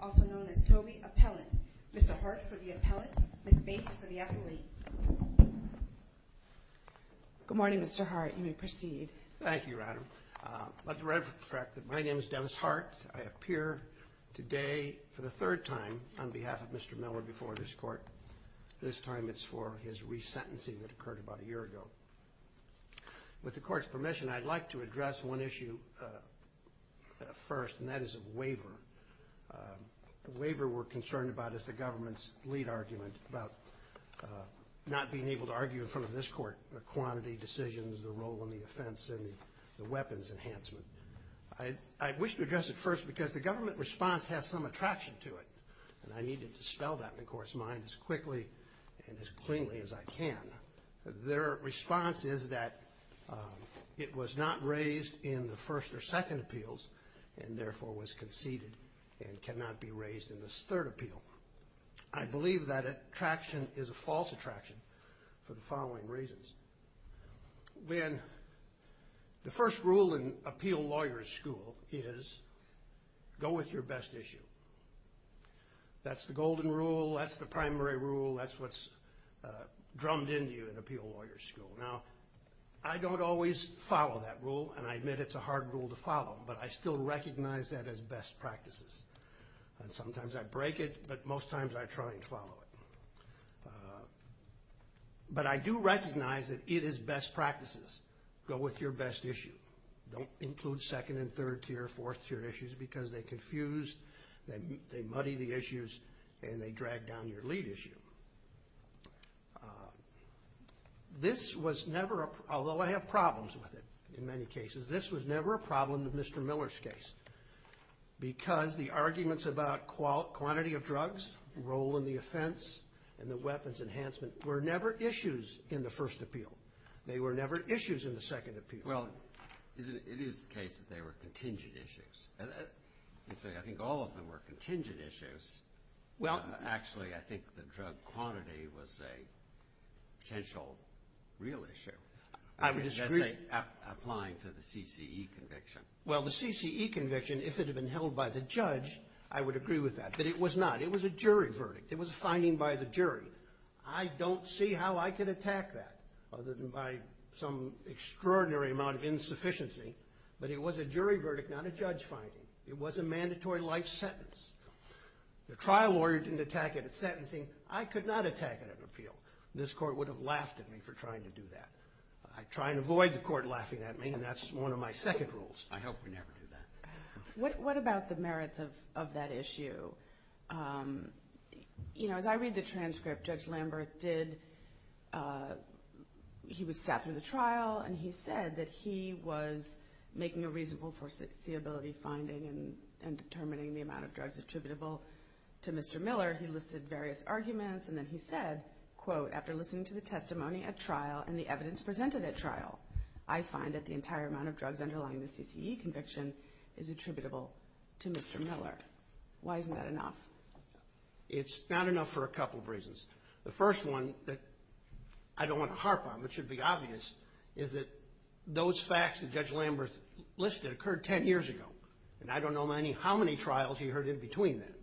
also known as Toby Appellate. Mr. Hart for the appellate, Ms. Bates for the appellate. Good morning, Mr. Hart. You may proceed. Thank you, Madam. My name is Dennis Hart. I appear today for the third time on behalf of Mr. Miller before this court. This time it's for his resentencing that occurred about a year ago. With the court's permission, I'd like to address one issue first, and that is a waiver. The waiver we're concerned about is the government's lead argument about not being able to argue in front of this court the quantity, decisions, the role, and the offense, and the weapons enhancement. I wish to address it first because the government response has some attraction to it, and I need to dispel that in the court's mind as quickly and as cleanly as I can. Their response is that it was not raised in the first or second appeals, and therefore was conceded and cannot be raised in this third appeal. I believe that attraction is a false attraction for the following reasons. When the first rule in appeal lawyer school is go with your best issue. That's the golden rule. That's the primary rule. That's what's drummed into you in appeal lawyer school. Now, I don't always follow that rule, and I admit it's a hard rule to follow, but I still recognize that as best practices. And sometimes I break it, but most times I try and follow it. But I do recognize that it is best practices. Go with your best issue. Don't include second- and third-tier, fourth-tier issues because they confuse, they muddy the issues, and they drag down your lead issue. This was never a problem, although I have problems with it in many cases. This was never a problem in Mr. Miller's case because the arguments about quantity of drugs, role in the offense, and the weapons enhancement were never issues in the first appeal. They were never issues in the second appeal. Well, it is the case that they were contingent issues. I think all of them were contingent issues. Well, actually, I think the drug quantity was a potential real issue. I would disagree. Applying to the CCE conviction. Well, the CCE conviction, if it had been held by the judge, I would agree with that. But it was not. It was a jury verdict. It was a finding by the jury. I don't see how I could attack that other than by some extraordinary amount of insufficiency. But it was a jury verdict, not a judge finding. It was a mandatory life sentence. The trial lawyer didn't attack it at sentencing. I could not attack it at an appeal. This court would have laughed at me for trying to do that. I try and avoid the court laughing at me, and that's one of my second rules. I hope we never do that. What about the merits of that issue? You know, as I read the transcript, Judge Lambert did. He sat through the trial, and he said that he was making a reasonable foreseeability finding and determining the amount of drugs attributable to Mr. Miller. He listed various arguments, and then he said, quote, after listening to the testimony at trial and the evidence presented at trial, I find that the entire amount of drugs underlying the CCE conviction is attributable to Mr. Miller. Why isn't that enough? It's not enough for a couple of reasons. The first one that I don't want to harp on, but should be obvious, is that those facts that Judge Lambert listed occurred 10 years ago, and I don't know how many trials he heard in between them.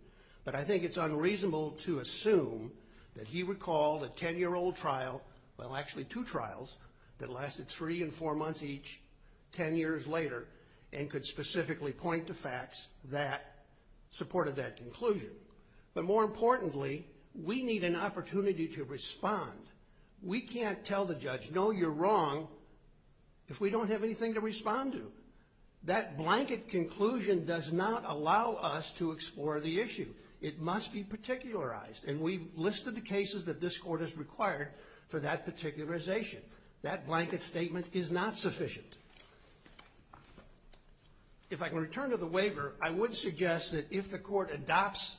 But I think it's unreasonable to assume that he recalled a 10-year-old trial, well, actually two trials that lasted three and four months each, 10 years later, and could specifically point to facts that supported that conclusion. But more importantly, we need an opportunity to respond. We can't tell the judge, no, you're wrong, if we don't have anything to respond to. That blanket conclusion does not allow us to explore the issue. It must be particularized. And we've listed the cases that this Court has required for that particularization. That blanket statement is not sufficient. If I can return to the waiver, I would suggest that if the Court adopts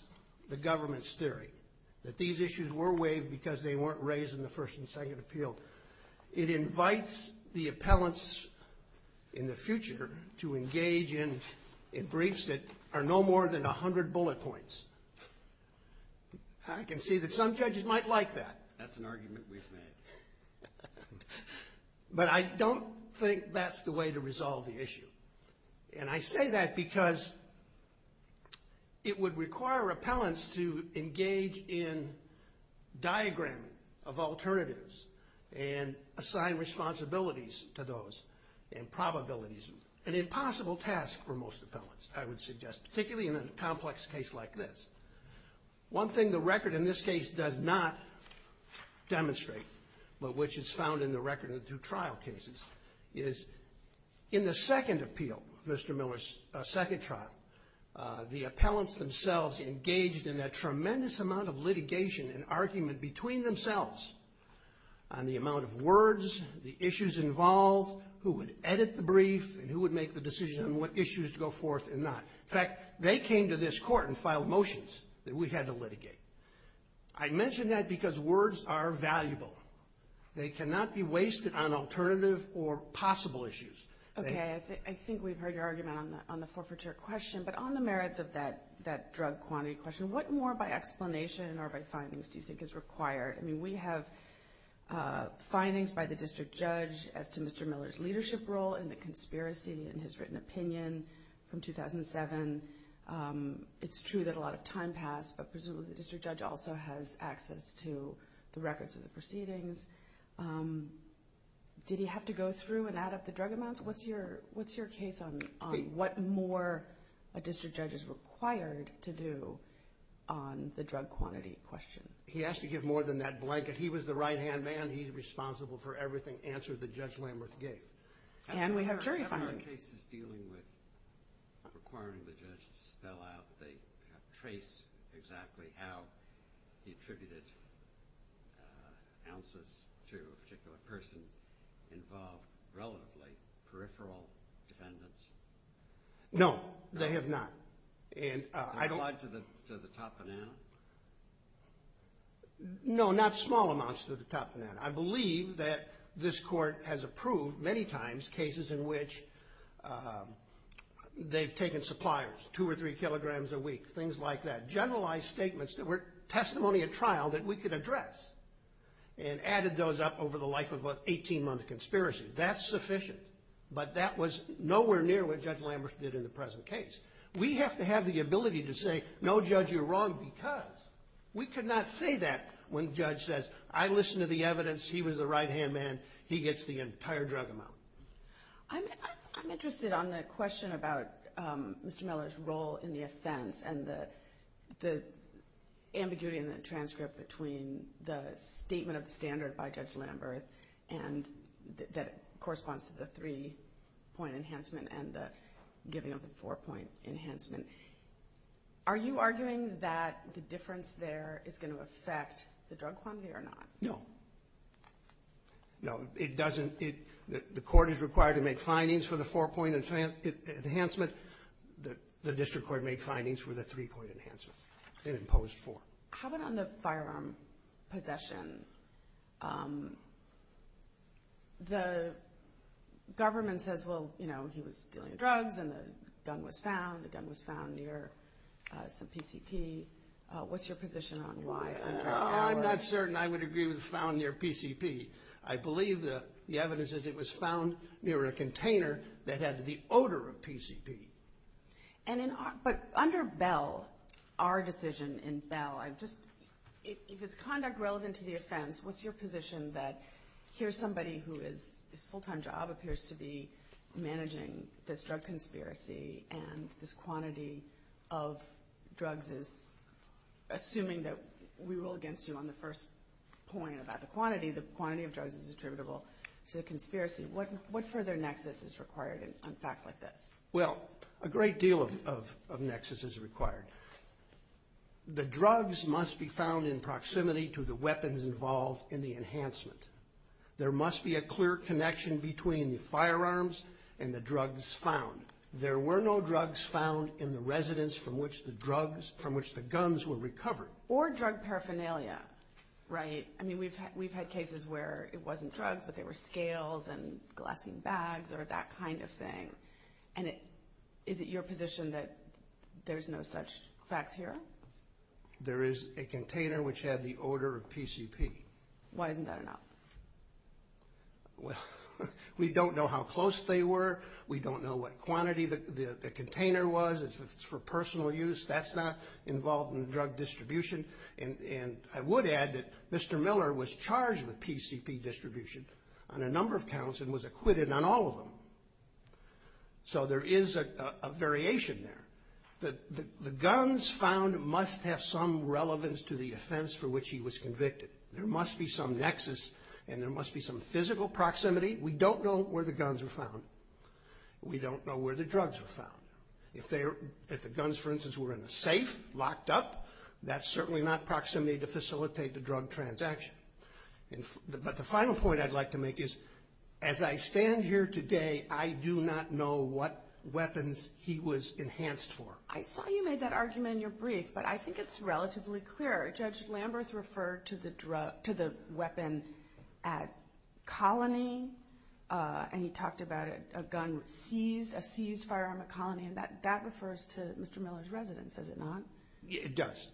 the government's theory that these issues were waived because they weren't raised in the first and second appeal, it invites the appellants in the future to engage in briefs that are no more than 100 bullet points. I can see that some judges might like that. But I don't think that's the way to resolve the issue. And I say that because it would require appellants to engage in diagramming of alternatives and assign responsibilities to those and probabilities. An impossible task for most appellants, I would suggest, particularly in a complex case like this. One thing the record in this case does not demonstrate, but which is found in the record of the two trial cases, is in the second appeal, Mr. Miller's second trial, the appellants themselves engaged in a tremendous amount of litigation and argument between themselves on the amount of words, the issues involved, who would edit the brief, and who would make the decision on what issues to go forth and not. In fact, they came to this Court and filed motions that we had to litigate. I mention that because words are valuable. They cannot be wasted on alternative or possible issues. Okay, I think we've heard your argument on the forfeiture question, but on the merits of that drug quantity question, what more by explanation or by findings do you think is required? I mean, we have findings by the district judge as to Mr. Miller's leadership role in the conspiracy and his written opinion from 2007. It's true that a lot of time passed, but presumably the district judge also has access to the records of the proceedings. Did he have to go through and add up the drug amounts? What's your case on what more a district judge is required to do on the drug quantity question? He has to give more than that blanket. And we have jury findings. No, they have not. No, not small amounts to the top of that. I believe that this Court has approved many times cases in which they've taken suppliers, two or three kilograms a week, things like that, generalized statements that were testimony at trial that we could address and added those up over the life of an 18-month conspiracy. That's sufficient, but that was nowhere near what Judge Lamberth did in the present case. We have to have the ability to say, no, Judge, you're wrong, because we could not say that when the judge says, I listened to the evidence, he was the right-hand man, he gets the entire drug amount. I'm interested on the question about Mr. Miller's role in the offense and the ambiguity in the transcript between the statement of the standard by Judge Lamberth that corresponds to the three-point enhancement and the giving of the four-point enhancement. Are you arguing that the difference there is going to affect the drug quantity or not? No. The Court is required to make findings for the four-point enhancement. The District Court made findings for the three-point enhancement. How about on the firearm possession? The government says, well, you know, he was dealing drugs and the gun was found. The gun was found near some PCP. What's your position on why? I'm not certain I would agree with found near PCP. I believe the evidence is it was found near a container that had the odor of PCP. But under Bell, our decision in Bell, if it's conduct relevant to the offense, what's your position that here's somebody who is, his full-time job appears to be managing this drug conspiracy, and this quantity of drugs is, assuming that we rule against you on the first point about the quantity, the quantity of drugs is attributable to the conspiracy. What further nexus is required on facts like this? Well, a great deal of nexus is required. The drugs must be found in proximity to the weapons involved in the enhancement. There must be a clear connection between the firearms and the drugs found. There were no drugs found in the residence from which the guns were recovered. Or drug paraphernalia, right? I mean, we've had cases where it wasn't drugs, but there were scales and glassine bags or that kind of thing. And is it your position that there's no such facts here? There is a container which had the odor of PCP. Why isn't that enough? We don't know how close they were. We don't know what quantity the container was. It's for personal use. That's not involved in the drug distribution. And I would add that Mr. Miller was charged with PCP distribution on a number of counts and was acquitted on all of them. So there is a variation there. The guns found must have some relevance to the offense for which he was convicted. There must be some nexus and there must be some physical proximity. We don't know where the guns were found. We don't know where the drugs were found. If the guns, for instance, were in a safe, locked up, that's certainly not proximity to facilitate the drug transaction. But the final point I'd like to make is, as I stand here today, I do not know what weapons he was enhanced for. I saw you made that argument in your brief, but I think it's relatively clear. Judge Lamberth referred to the weapon at Colony, and he talked about a gun seized, a seized firearm at Colony, and that refers to Mr. Miller's residence, does it not? It does.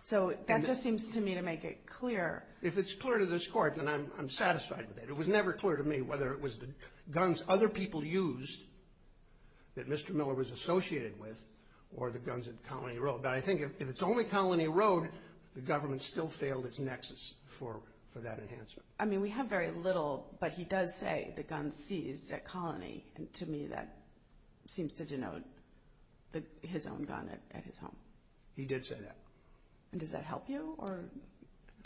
So that just seems to me to make it clear. If it's clear to this Court, then I'm satisfied with it. It was never clear to me whether it was the guns other people used that Mr. Miller was associated with or the guns at Colony Road. But I think if it's only Colony Road, the government still failed its nexus for that enhancement. I mean, we have very little, but he does say the guns seized at Colony, and to me that seems to denote his own gun at his home. He did say that.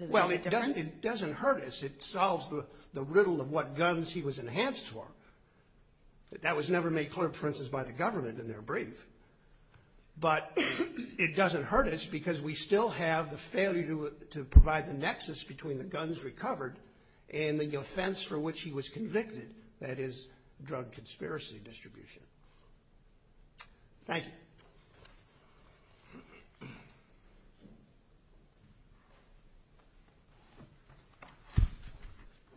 Well, it doesn't hurt us. It solves the riddle of what guns he was enhanced for. That was never made clear, for instance, by the government in their brief. But it doesn't hurt us because we still have the failure to provide the nexus between the guns recovered and the offense for which he was convicted, that is, drug conspiracy distribution. Thank you.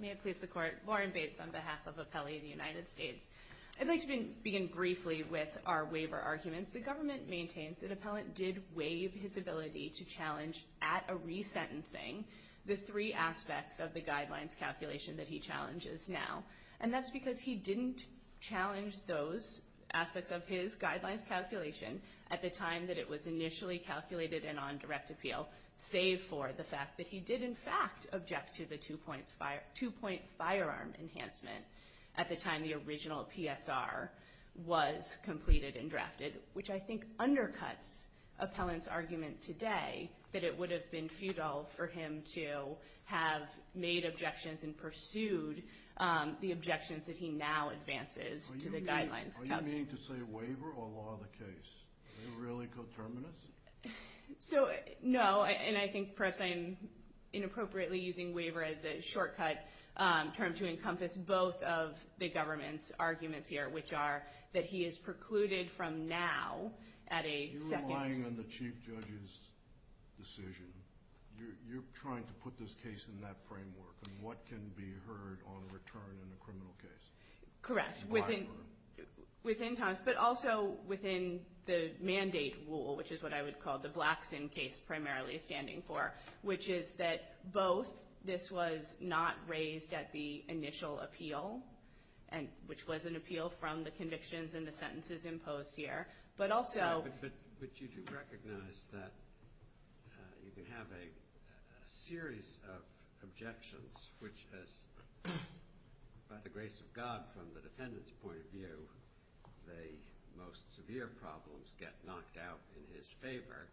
May it please the Court. Lauren Bates on behalf of Appellee of the United States. I'd like to begin briefly with our waiver arguments. The government maintains that an appellant did waive his ability to challenge at a resentencing the three aspects of the guidelines calculation that he challenges now, and that's because he didn't challenge those aspects of his guidelines calculation at the time that it was initially calculated and on direct appeal, save for the fact that he did in fact object to the two-point firearm enhancement at the time the original PSR was completed and drafted, which I think undercuts appellant's argument today that it would have been futile for him to have made objections and pursued the objections that he now advances to the guidelines. Are you meaning to say waiver or law of the case? Are you really coterminous? No, and I think perhaps I am inappropriately using waiver as a shortcut term to encompass both of the government's arguments here, which are that he is precluded from now at a second. You're relying on the chief judge's decision. You're trying to put this case in that framework, and what can be heard on return in a criminal case? Correct, within Thomas, but also within the mandate rule, which is what I would call the Blackson case primarily standing for, which is that both this was not raised at the initial appeal, which was an appeal from the convictions and the sentences imposed here, but also— But you do recognize that you can have a series of objections, which has, by the grace of God, from the defendant's point of view, the most severe problems get knocked out in his favor.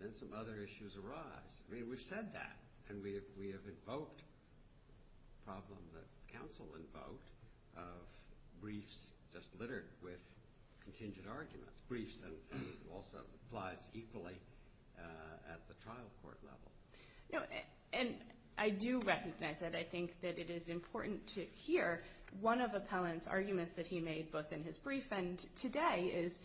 Then some other issues arise. I mean, we've said that, and we have invoked a problem that counsel invoked of briefs just littered with contingent arguments, briefs that also applies equally at the trial court level. And I do recognize that. I think that it is important to hear one of Appellant's arguments that he made, both in his brief and today, is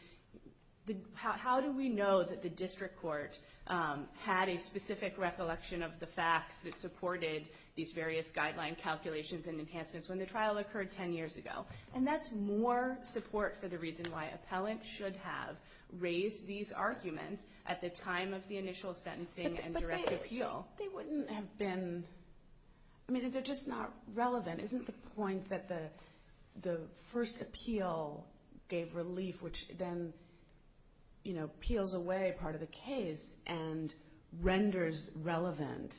how do we know that the district court had a specific recollection of the facts that supported these various guideline calculations and enhancements when the trial occurred 10 years ago? And that's more support for the reason why Appellant should have raised these arguments at the time of the initial sentencing and direct appeal. But they wouldn't have been—I mean, they're just not relevant. Isn't the point that the first appeal gave relief, which then peels away part of the case and renders relevant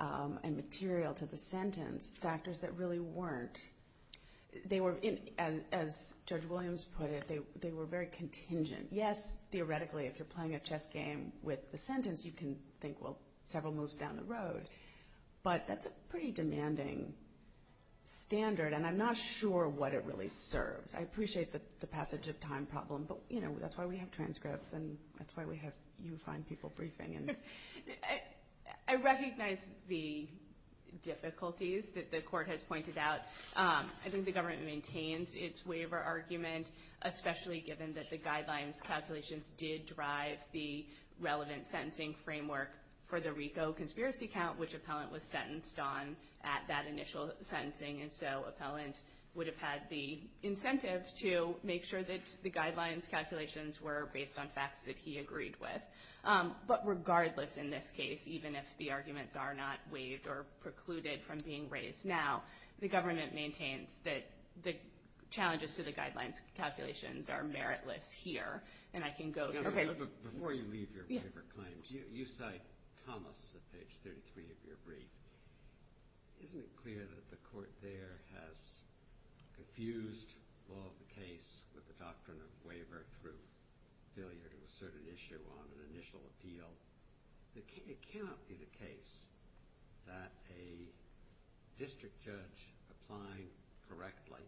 and material to the sentence factors that really weren't? As Judge Williams put it, they were very contingent. Yes, theoretically, if you're playing a chess game with the sentence, but that's a pretty demanding standard, and I'm not sure what it really serves. I appreciate the passage of time problem, but that's why we have transcripts and that's why you find people briefing. I recognize the difficulties that the court has pointed out. I think the government maintains its waiver argument, especially given that the guidelines calculations did drive the relevant sentencing framework for the RICO conspiracy count, which Appellant was sentenced on at that initial sentencing. And so Appellant would have had the incentive to make sure that the guidelines calculations were based on facts that he agreed with. But regardless in this case, even if the arguments are not waived or precluded from being raised now, the government maintains that the challenges to the guidelines calculations are meritless here. Before you leave your waiver claims, you cite Thomas at page 33 of your brief. Isn't it clear that the court there has confused law of the case with the doctrine of waiver through failure to assert an issue on an initial appeal? It cannot be the case that a district judge applying correctly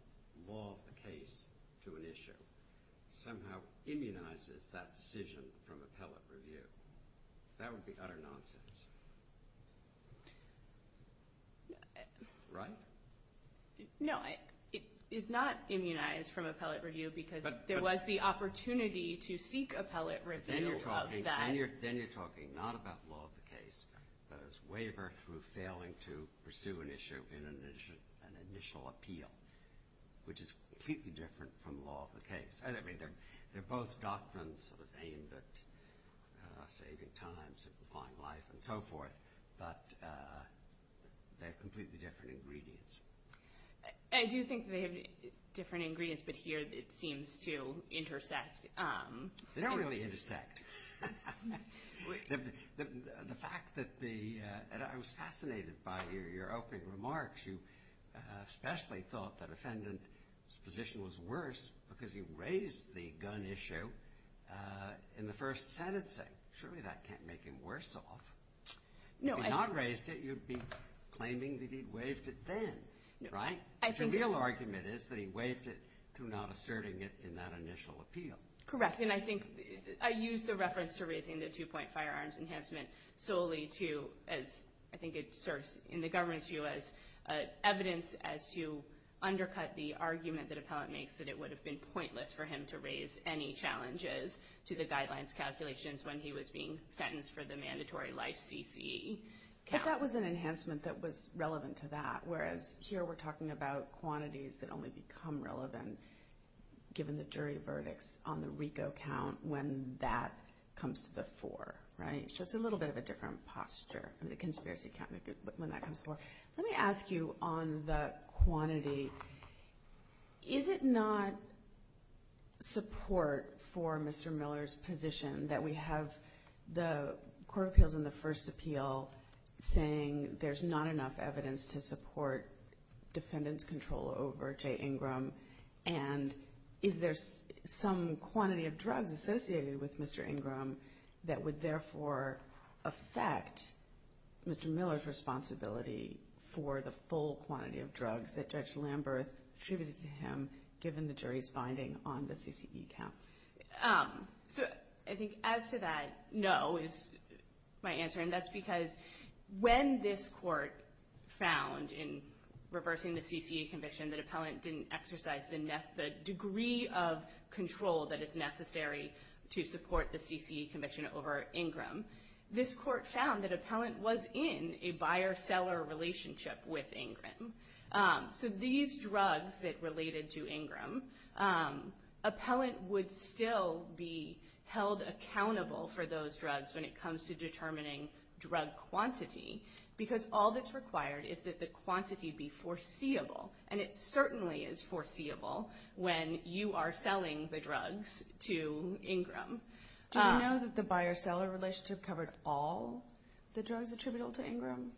law of the case to an issue somehow immunizes that decision from appellate review. That would be utter nonsense. Right? No, it is not immunized from appellate review because there was the opportunity to seek appellate review of that. Then you're talking not about law of the case, but as waiver through failing to pursue an issue in an initial appeal, which is completely different from law of the case. They're both doctrines aimed at saving time, simplifying life, and so forth, but they have completely different ingredients. I do think they have different ingredients, but here it seems to intersect. They don't really intersect. I was fascinated by your opening remarks. You especially thought that the defendant's position was worse because he raised the gun issue in the first sentencing. Surely that can't make him worse off. If he had not raised it, you'd be claiming that he'd waived it then, right? The real argument is that he waived it through not asserting it in that initial appeal. Correct. I think I used the reference to raising the two-point firearms enhancement solely to, as I think it serves in the government's view as evidence as to undercut the argument that appellate makes that it would have been pointless for him to raise any challenges to the guidelines calculations when he was being sentenced for the mandatory life CCE count. But that was an enhancement that was relevant to that, whereas here we're talking about quantities that only become relevant given the jury verdicts on the RICO count when that comes to the fore, right? So it's a little bit of a different posture, the conspiracy count when that comes to the fore. Let me ask you on the quantity. Is it not support for Mr. Miller's position that we have the court appeals in the first appeal saying there's not enough evidence to support defendant's control over Jay Ingram, and is there some quantity of drugs associated with Mr. Ingram that would therefore affect Mr. Miller's responsibility for the full quantity of drugs that Judge Lamberth attributed to him given the jury's finding on the CCE count? So I think as to that, no is my answer, and that's because when this court found in reversing the CCE conviction that appellant didn't exercise the degree of control that is necessary to support the CCE conviction over Ingram, this court found that appellant was in a buyer-seller relationship with Ingram. So these drugs that related to Ingram, appellant would still be held accountable for those drugs when it comes to determining drug quantity because all that's required is that the quantity be foreseeable, and it certainly is foreseeable when you are selling the drugs to Ingram. Do we know that the buyer-seller relationship covered all the drugs attributable to Ingram?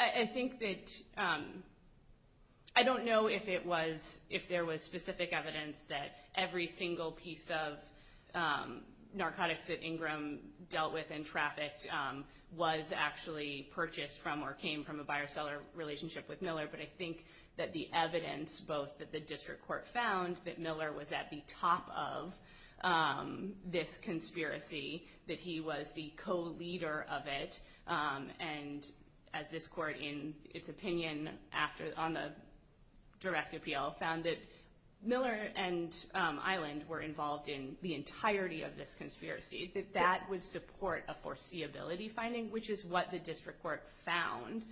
I think that I don't know if there was specific evidence that every single piece of narcotics that Ingram dealt with and trafficked was actually purchased from or came from a buyer-seller relationship with Miller, but I think that the evidence both that the district court found that Miller was at the top of this conspiracy, that he was the co-leader of it, and as this court, in its opinion on the direct appeal, found that Miller and Island were involved in the entirety of this conspiracy, that that would support a foreseeability finding, which is what the district court found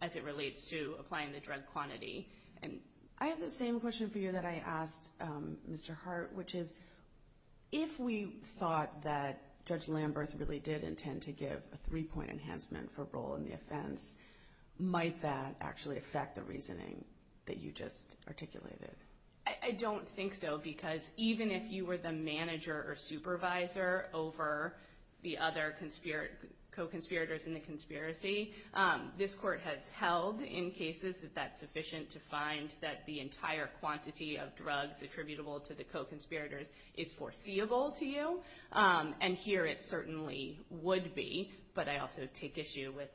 as it relates to applying the drug quantity. I have the same question for you that I asked Mr. Hart, which is, if we thought that Judge Lamberth really did intend to give a three-point enhancement for role in the offense, might that actually affect the reasoning that you just articulated? I don't think so because even if you were the manager or supervisor over the other co-conspirators in the conspiracy, this court has held in cases that that's sufficient to find that the entire quantity of drugs attributable to the co-conspirators is foreseeable to you, and here it certainly would be, but I also take issue with,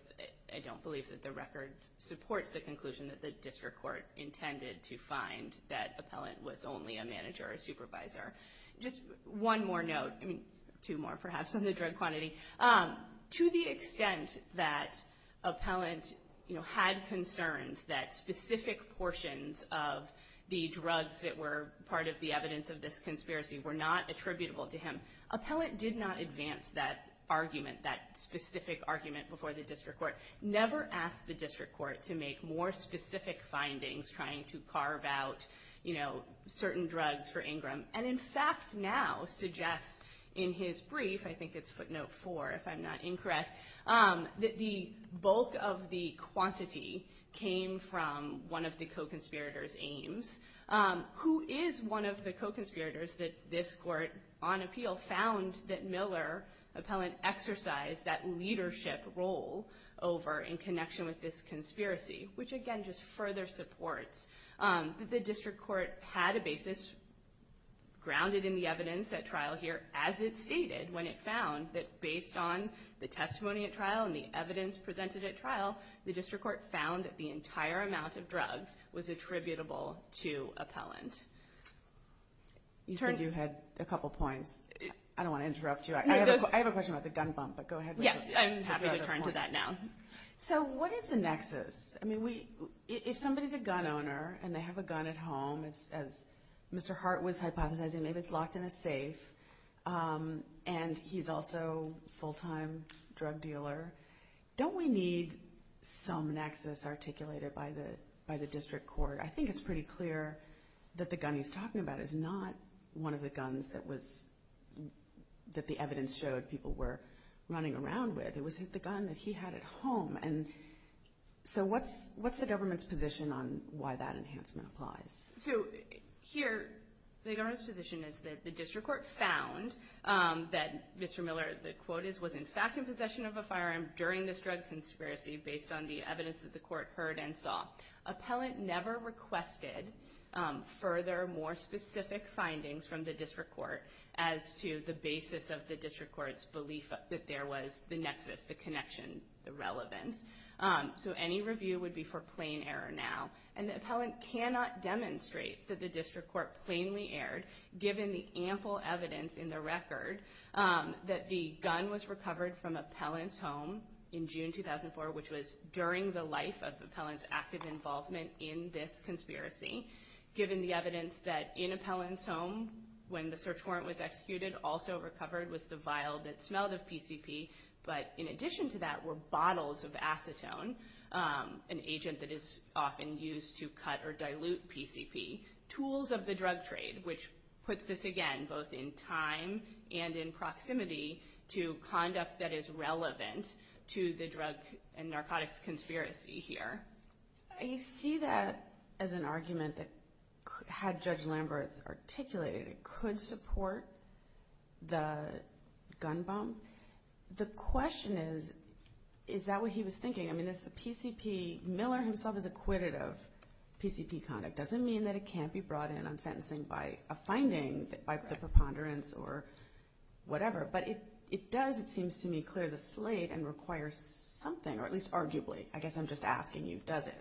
I don't believe that the record supports the conclusion that the district court intended to find that Appellant was only a manager or supervisor. Just one more note, two more perhaps on the drug quantity. To the extent that Appellant had concerns that specific portions of the drugs that were part of the evidence of this conspiracy were not attributable to him, Appellant did not advance that argument, that specific argument before the district court, never asked the district court to make more specific findings trying to carve out certain drugs for Ingram, and in fact now suggests in his brief, I think it's footnote four if I'm not incorrect, that the bulk of the quantity came from one of the co-conspirators, Ames, who is one of the co-conspirators that this court on appeal found that Miller, Appellant, exercised that leadership role over in connection with this conspiracy, which again just further supports that the district court had a basis grounded in the evidence at trial here, as it stated when it found that based on the testimony at trial and the evidence presented at trial, the district court found that the entire amount of drugs was attributable to Appellant. You said you had a couple points. I don't want to interrupt you. I have a question about the gun bump, but go ahead. Yes, I'm happy to turn to that now. So what is the nexus? I mean, if somebody's a gun owner and they have a gun at home, as Mr. Hart was hypothesizing, maybe it's locked in a safe and he's also a full-time drug dealer, don't we need some nexus articulated by the district court? I think it's pretty clear that the gun he's talking about is not one of the guns that the evidence showed people were running around with. It wasn't the gun that he had at home. So what's the government's position on why that enhancement applies? So here the government's position is that the district court found that Mr. Miller, the quote is, was in fact in possession of a firearm during this drug conspiracy based on the evidence that the court heard and saw. Appellant never requested further, more specific findings from the district court as to the basis of the district court's belief that there was the nexus, the connection, the relevance. So any review would be for plain error now. And the appellant cannot demonstrate that the district court plainly erred, given the ample evidence in the record that the gun was recovered from appellant's home in June 2004, which was during the life of the appellant's active involvement in this conspiracy, given the evidence that in appellant's home when the search warrant was executed, also recovered was the vial that smelled of PCP. But in addition to that were bottles of acetone, an agent that is often used to cut or dilute PCP, tools of the drug trade, which puts this again both in time and in proximity to conduct that is relevant to the drug and narcotics conspiracy here. I see that as an argument that had Judge Lamberth articulated it could support the gun bomb. The question is, is that what he was thinking? I mean, the PCP, Miller himself is acquitted of PCP conduct. It doesn't mean that it can't be brought in on sentencing by a finding, by the preponderance or whatever. But it does, it seems to me, clear the slate and requires something, or at least arguably. I guess I'm just asking you, does it?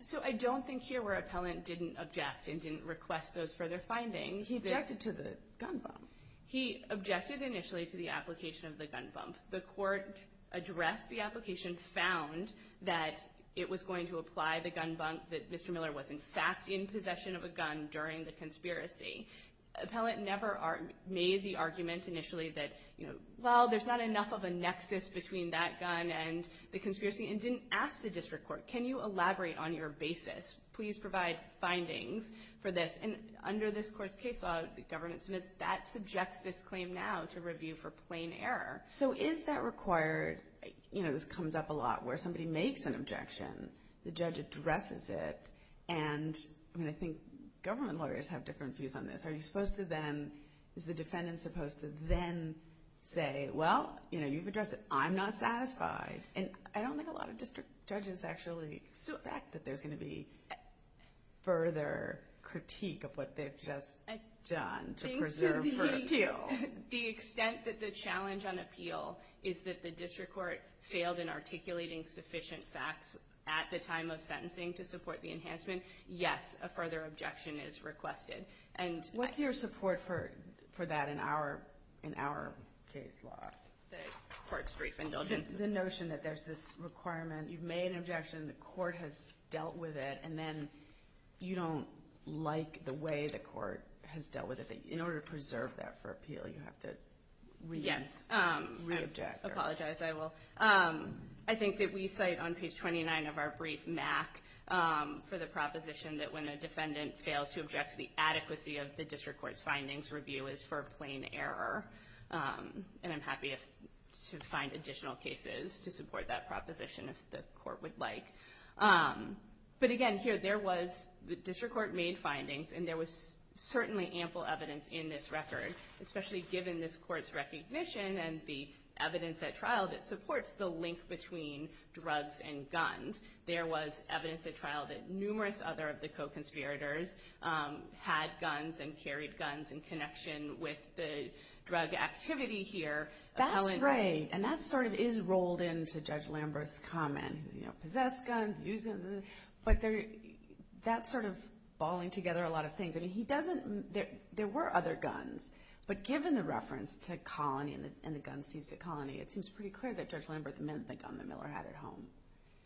So I don't think here where appellant didn't object and didn't request those further findings. He objected to the gun bomb. He objected initially to the application of the gun bomb. The court addressed the application, found that it was going to apply the gun bomb, that Mr. Miller was in fact in possession of a gun during the conspiracy. Appellant never made the argument initially that, you know, oh, there's not enough of a nexus between that gun and the conspiracy, and didn't ask the district court, can you elaborate on your basis? Please provide findings for this. And under this court's case law, the government submits, that subjects this claim now to review for plain error. So is that required? You know, this comes up a lot where somebody makes an objection, the judge addresses it, and I think government lawyers have different views on this. Are you supposed to then, is the defendant supposed to then say, well, you know, you've addressed it, I'm not satisfied. And I don't think a lot of district judges actually expect that there's going to be further critique of what they've just done to preserve for appeal. I think to the extent that the challenge on appeal is that the district court failed in articulating sufficient facts at the time of sentencing to support the enhancement, yes, a further objection is requested. What's your support for that in our case law? The court's brief indulgence. The notion that there's this requirement, you've made an objection, the court has dealt with it, and then you don't like the way the court has dealt with it. In order to preserve that for appeal, you have to reobject. Yes, I apologize, I will. I think that we cite on page 29 of our brief MAC for the proposition that when a defendant fails to object to the adequacy of the district court's findings, review is for plain error. And I'm happy to find additional cases to support that proposition if the court would like. But again, here there was, the district court made findings, and there was certainly ample evidence in this record, especially given this court's recognition and the evidence at trial that supports the link between drugs and guns. There was evidence at trial that numerous other of the co-conspirators had guns and carried guns in connection with the drug activity here. That's right, and that sort of is rolled into Judge Lambert's comment. Possess guns, use them, but that's sort of balling together a lot of things. I mean, he doesn't, there were other guns, but given the reference to colony and the gun seized at colony, it seems pretty clear that Judge Lambert meant the gun that Miller had at home.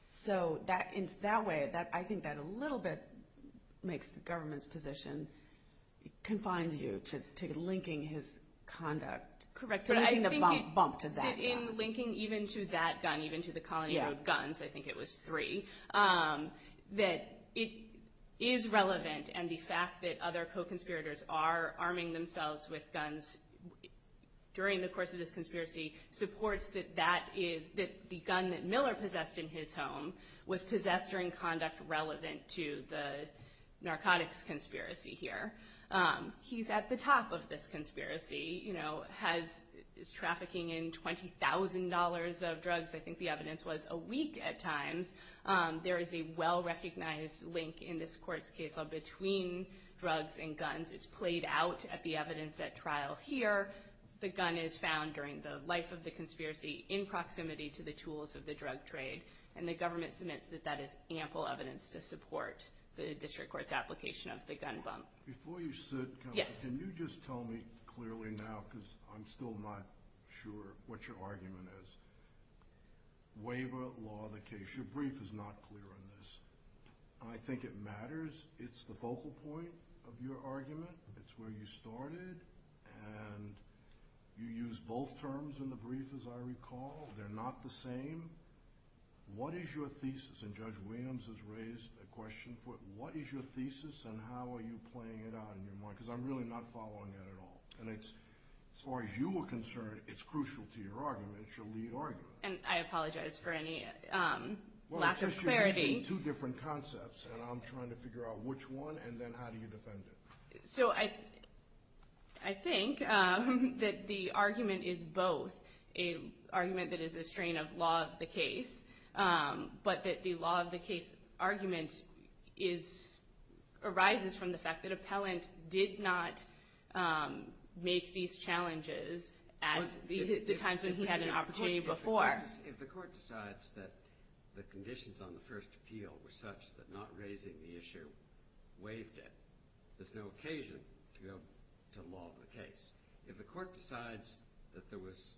So in that way, I think that a little bit makes the government's position, confines you to linking his conduct. Correct, but I think in linking even to that gun, even to the colony of guns, I think it was three, that it is relevant, and the fact that other co-conspirators are arming themselves with guns during the course of this conspiracy supports that the gun that Miller possessed in his home was possessed during conduct relevant to the narcotics conspiracy here. He's at the top of this conspiracy. He's trafficking in $20,000 of drugs. I think the evidence was a week at times. There is a well-recognized link in this court's case between drugs and guns. It's played out at the evidence at trial here. The gun is found during the life of the conspiracy in proximity to the tools of the drug trade, and the government submits that that is ample evidence to support the district court's application of the gun bump. Before you sit, counsel, can you just tell me clearly now, because I'm still not sure what your argument is. Waiver law the case. Your brief is not clear on this. I think it matters. It's the focal point of your argument. It's where you started, and you used both terms in the brief, as I recall. They're not the same. What is your thesis? And Judge Williams has raised a question for it. What is your thesis, and how are you playing it out in your mind? Because I'm really not following it at all. As far as you are concerned, it's crucial to your argument. It's your lead argument. I apologize for any lack of clarity. Well, it's just you're using two different concepts, and I'm trying to figure out which one, and then how do you defend it? So I think that the argument is both an argument that is a strain of law of the case, but that the law of the case argument arises from the fact that Appellant did not make these challenges at the times when he had an opportunity before. If the court decides that the conditions on the first appeal were such that not raising the issue waived it, there's no occasion to go to law of the case. If the court decides that it was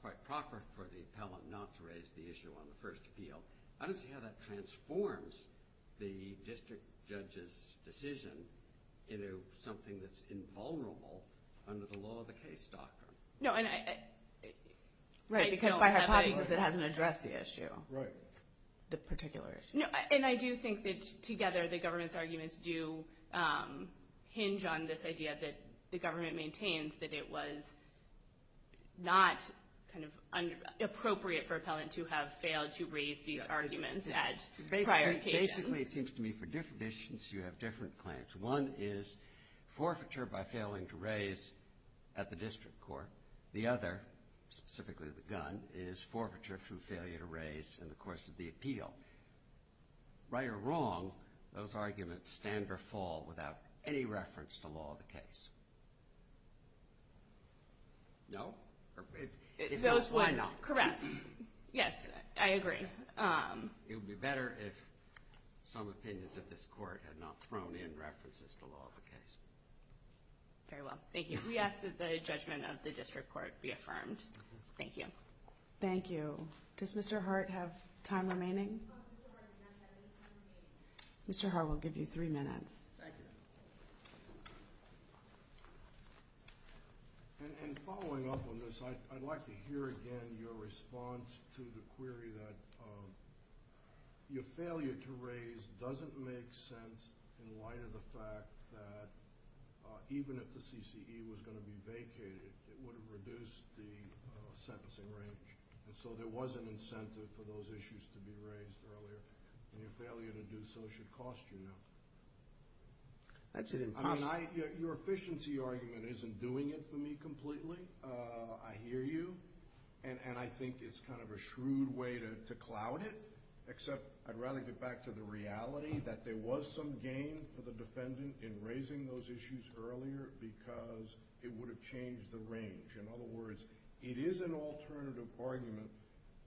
quite proper for the appellant not to raise the issue on the first appeal, I don't see how that transforms the district judge's decision into something that's invulnerable under the law of the case doctrine. Right, because by hypothesis it hasn't addressed the issue, the particular issue. And I do think that together the government's arguments do hinge on this idea that the government maintains that it was not appropriate for Appellant to have failed to raise these arguments at prior occasions. Basically it seems to me for different issues you have different claims. One is forfeiture by failing to raise at the district court. The other, specifically the gun, is forfeiture through failure to raise in the course of the appeal. Right or wrong, those arguments stand or fall without any reference to law of the case. No? If not, why not? Correct. Yes, I agree. It would be better if some opinions of this court had not thrown in references to law of the case. Very well, thank you. We ask that the judgment of the district court be affirmed. Thank you. Thank you. Does Mr. Hart have time remaining? Mr. Hart has not had any time to speak. Mr. Hart, we'll give you three minutes. Thank you. Following up on this, I'd like to hear again your response to the query that your failure to raise doesn't make sense in light of the fact that even if the CCE was going to be vacated, it would have reduced the sentencing range. So there was an incentive for those issues to be raised earlier, and your failure to do so should cost you nothing. That's an impossible... I mean, your efficiency argument isn't doing it for me completely. I hear you, and I think it's kind of a shrewd way to cloud it, except I'd rather get back to the reality that there was some gain for the defendant in raising those issues earlier because it would have changed the range. In other words, it is an alternative argument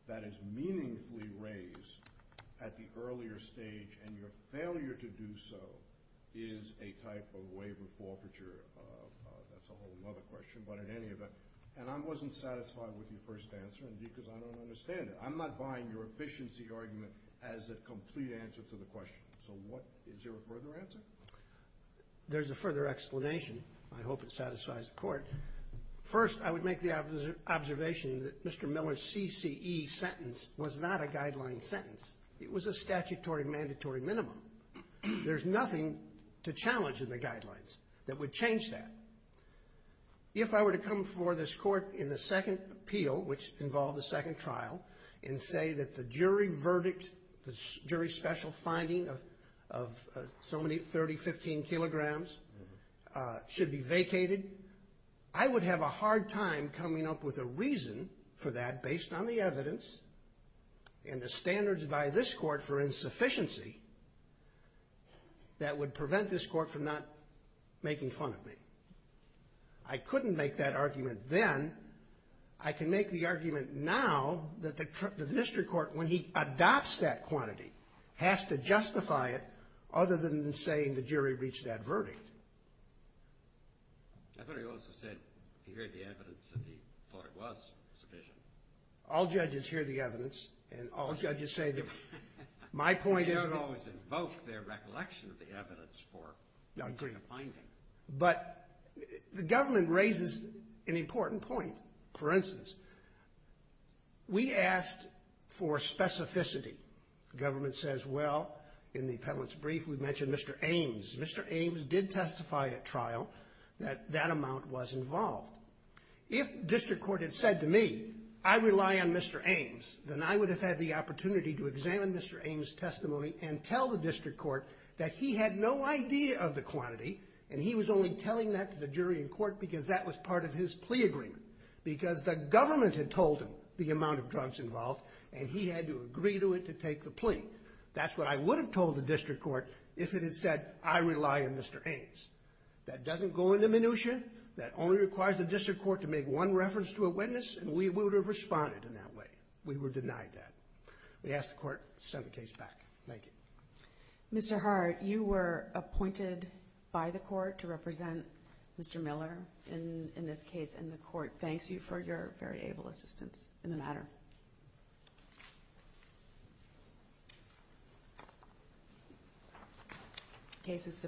that is meaningfully raised at the earlier stage, and your failure to do so is a type of waiver forfeiture. That's a whole other question, but in any event... And I wasn't satisfied with your first answer because I don't understand it. I'm not buying your efficiency argument as a complete answer to the question. So what... is there a further answer? There's a further explanation. I hope it satisfies the court. First, I would make the observation that Mr. Miller's CCE sentence was not a guideline sentence. It was a statutory mandatory minimum. There's nothing to challenge in the guidelines that would change that. If I were to come before this court in the second appeal, which involved the second trial, and say that the jury verdict, the jury special finding of so many 30, 15 kilograms should be vacated, I would have a hard time coming up with a reason for that based on the evidence and the standards by this court for insufficiency that would prevent this court from not making fun of me. I couldn't make that argument then. I can make the argument now that the district court, when he adopts that quantity, has to justify it other than saying the jury reached that verdict. I thought he also said he heard the evidence and he thought it was sufficient. All judges hear the evidence, and all judges say that my point is... They don't always invoke their recollection of the evidence for... But the government raises an important point. For instance, we asked for specificity. The government says, well, in the appellant's brief, we mentioned Mr. Ames. Mr. Ames did testify at trial that that amount was involved. If district court had said to me, I rely on Mr. Ames, then I would have had the opportunity to examine Mr. Ames' testimony and tell the district court that he had no idea of the quantity, and he was only telling that to the jury in court because that was part of his plea agreement, because the government had told him the amount of drugs involved, and he had to agree to it to take the plea. That's what I would have told the district court if it had said, I rely on Mr. Ames. That doesn't go into minutia. That only requires the district court to make one reference to a witness, and we would have responded in that way. We would have denied that. We ask the court to send the case back. Thank you. Mr. Hart, you were appointed by the court to represent Mr. Miller in this case,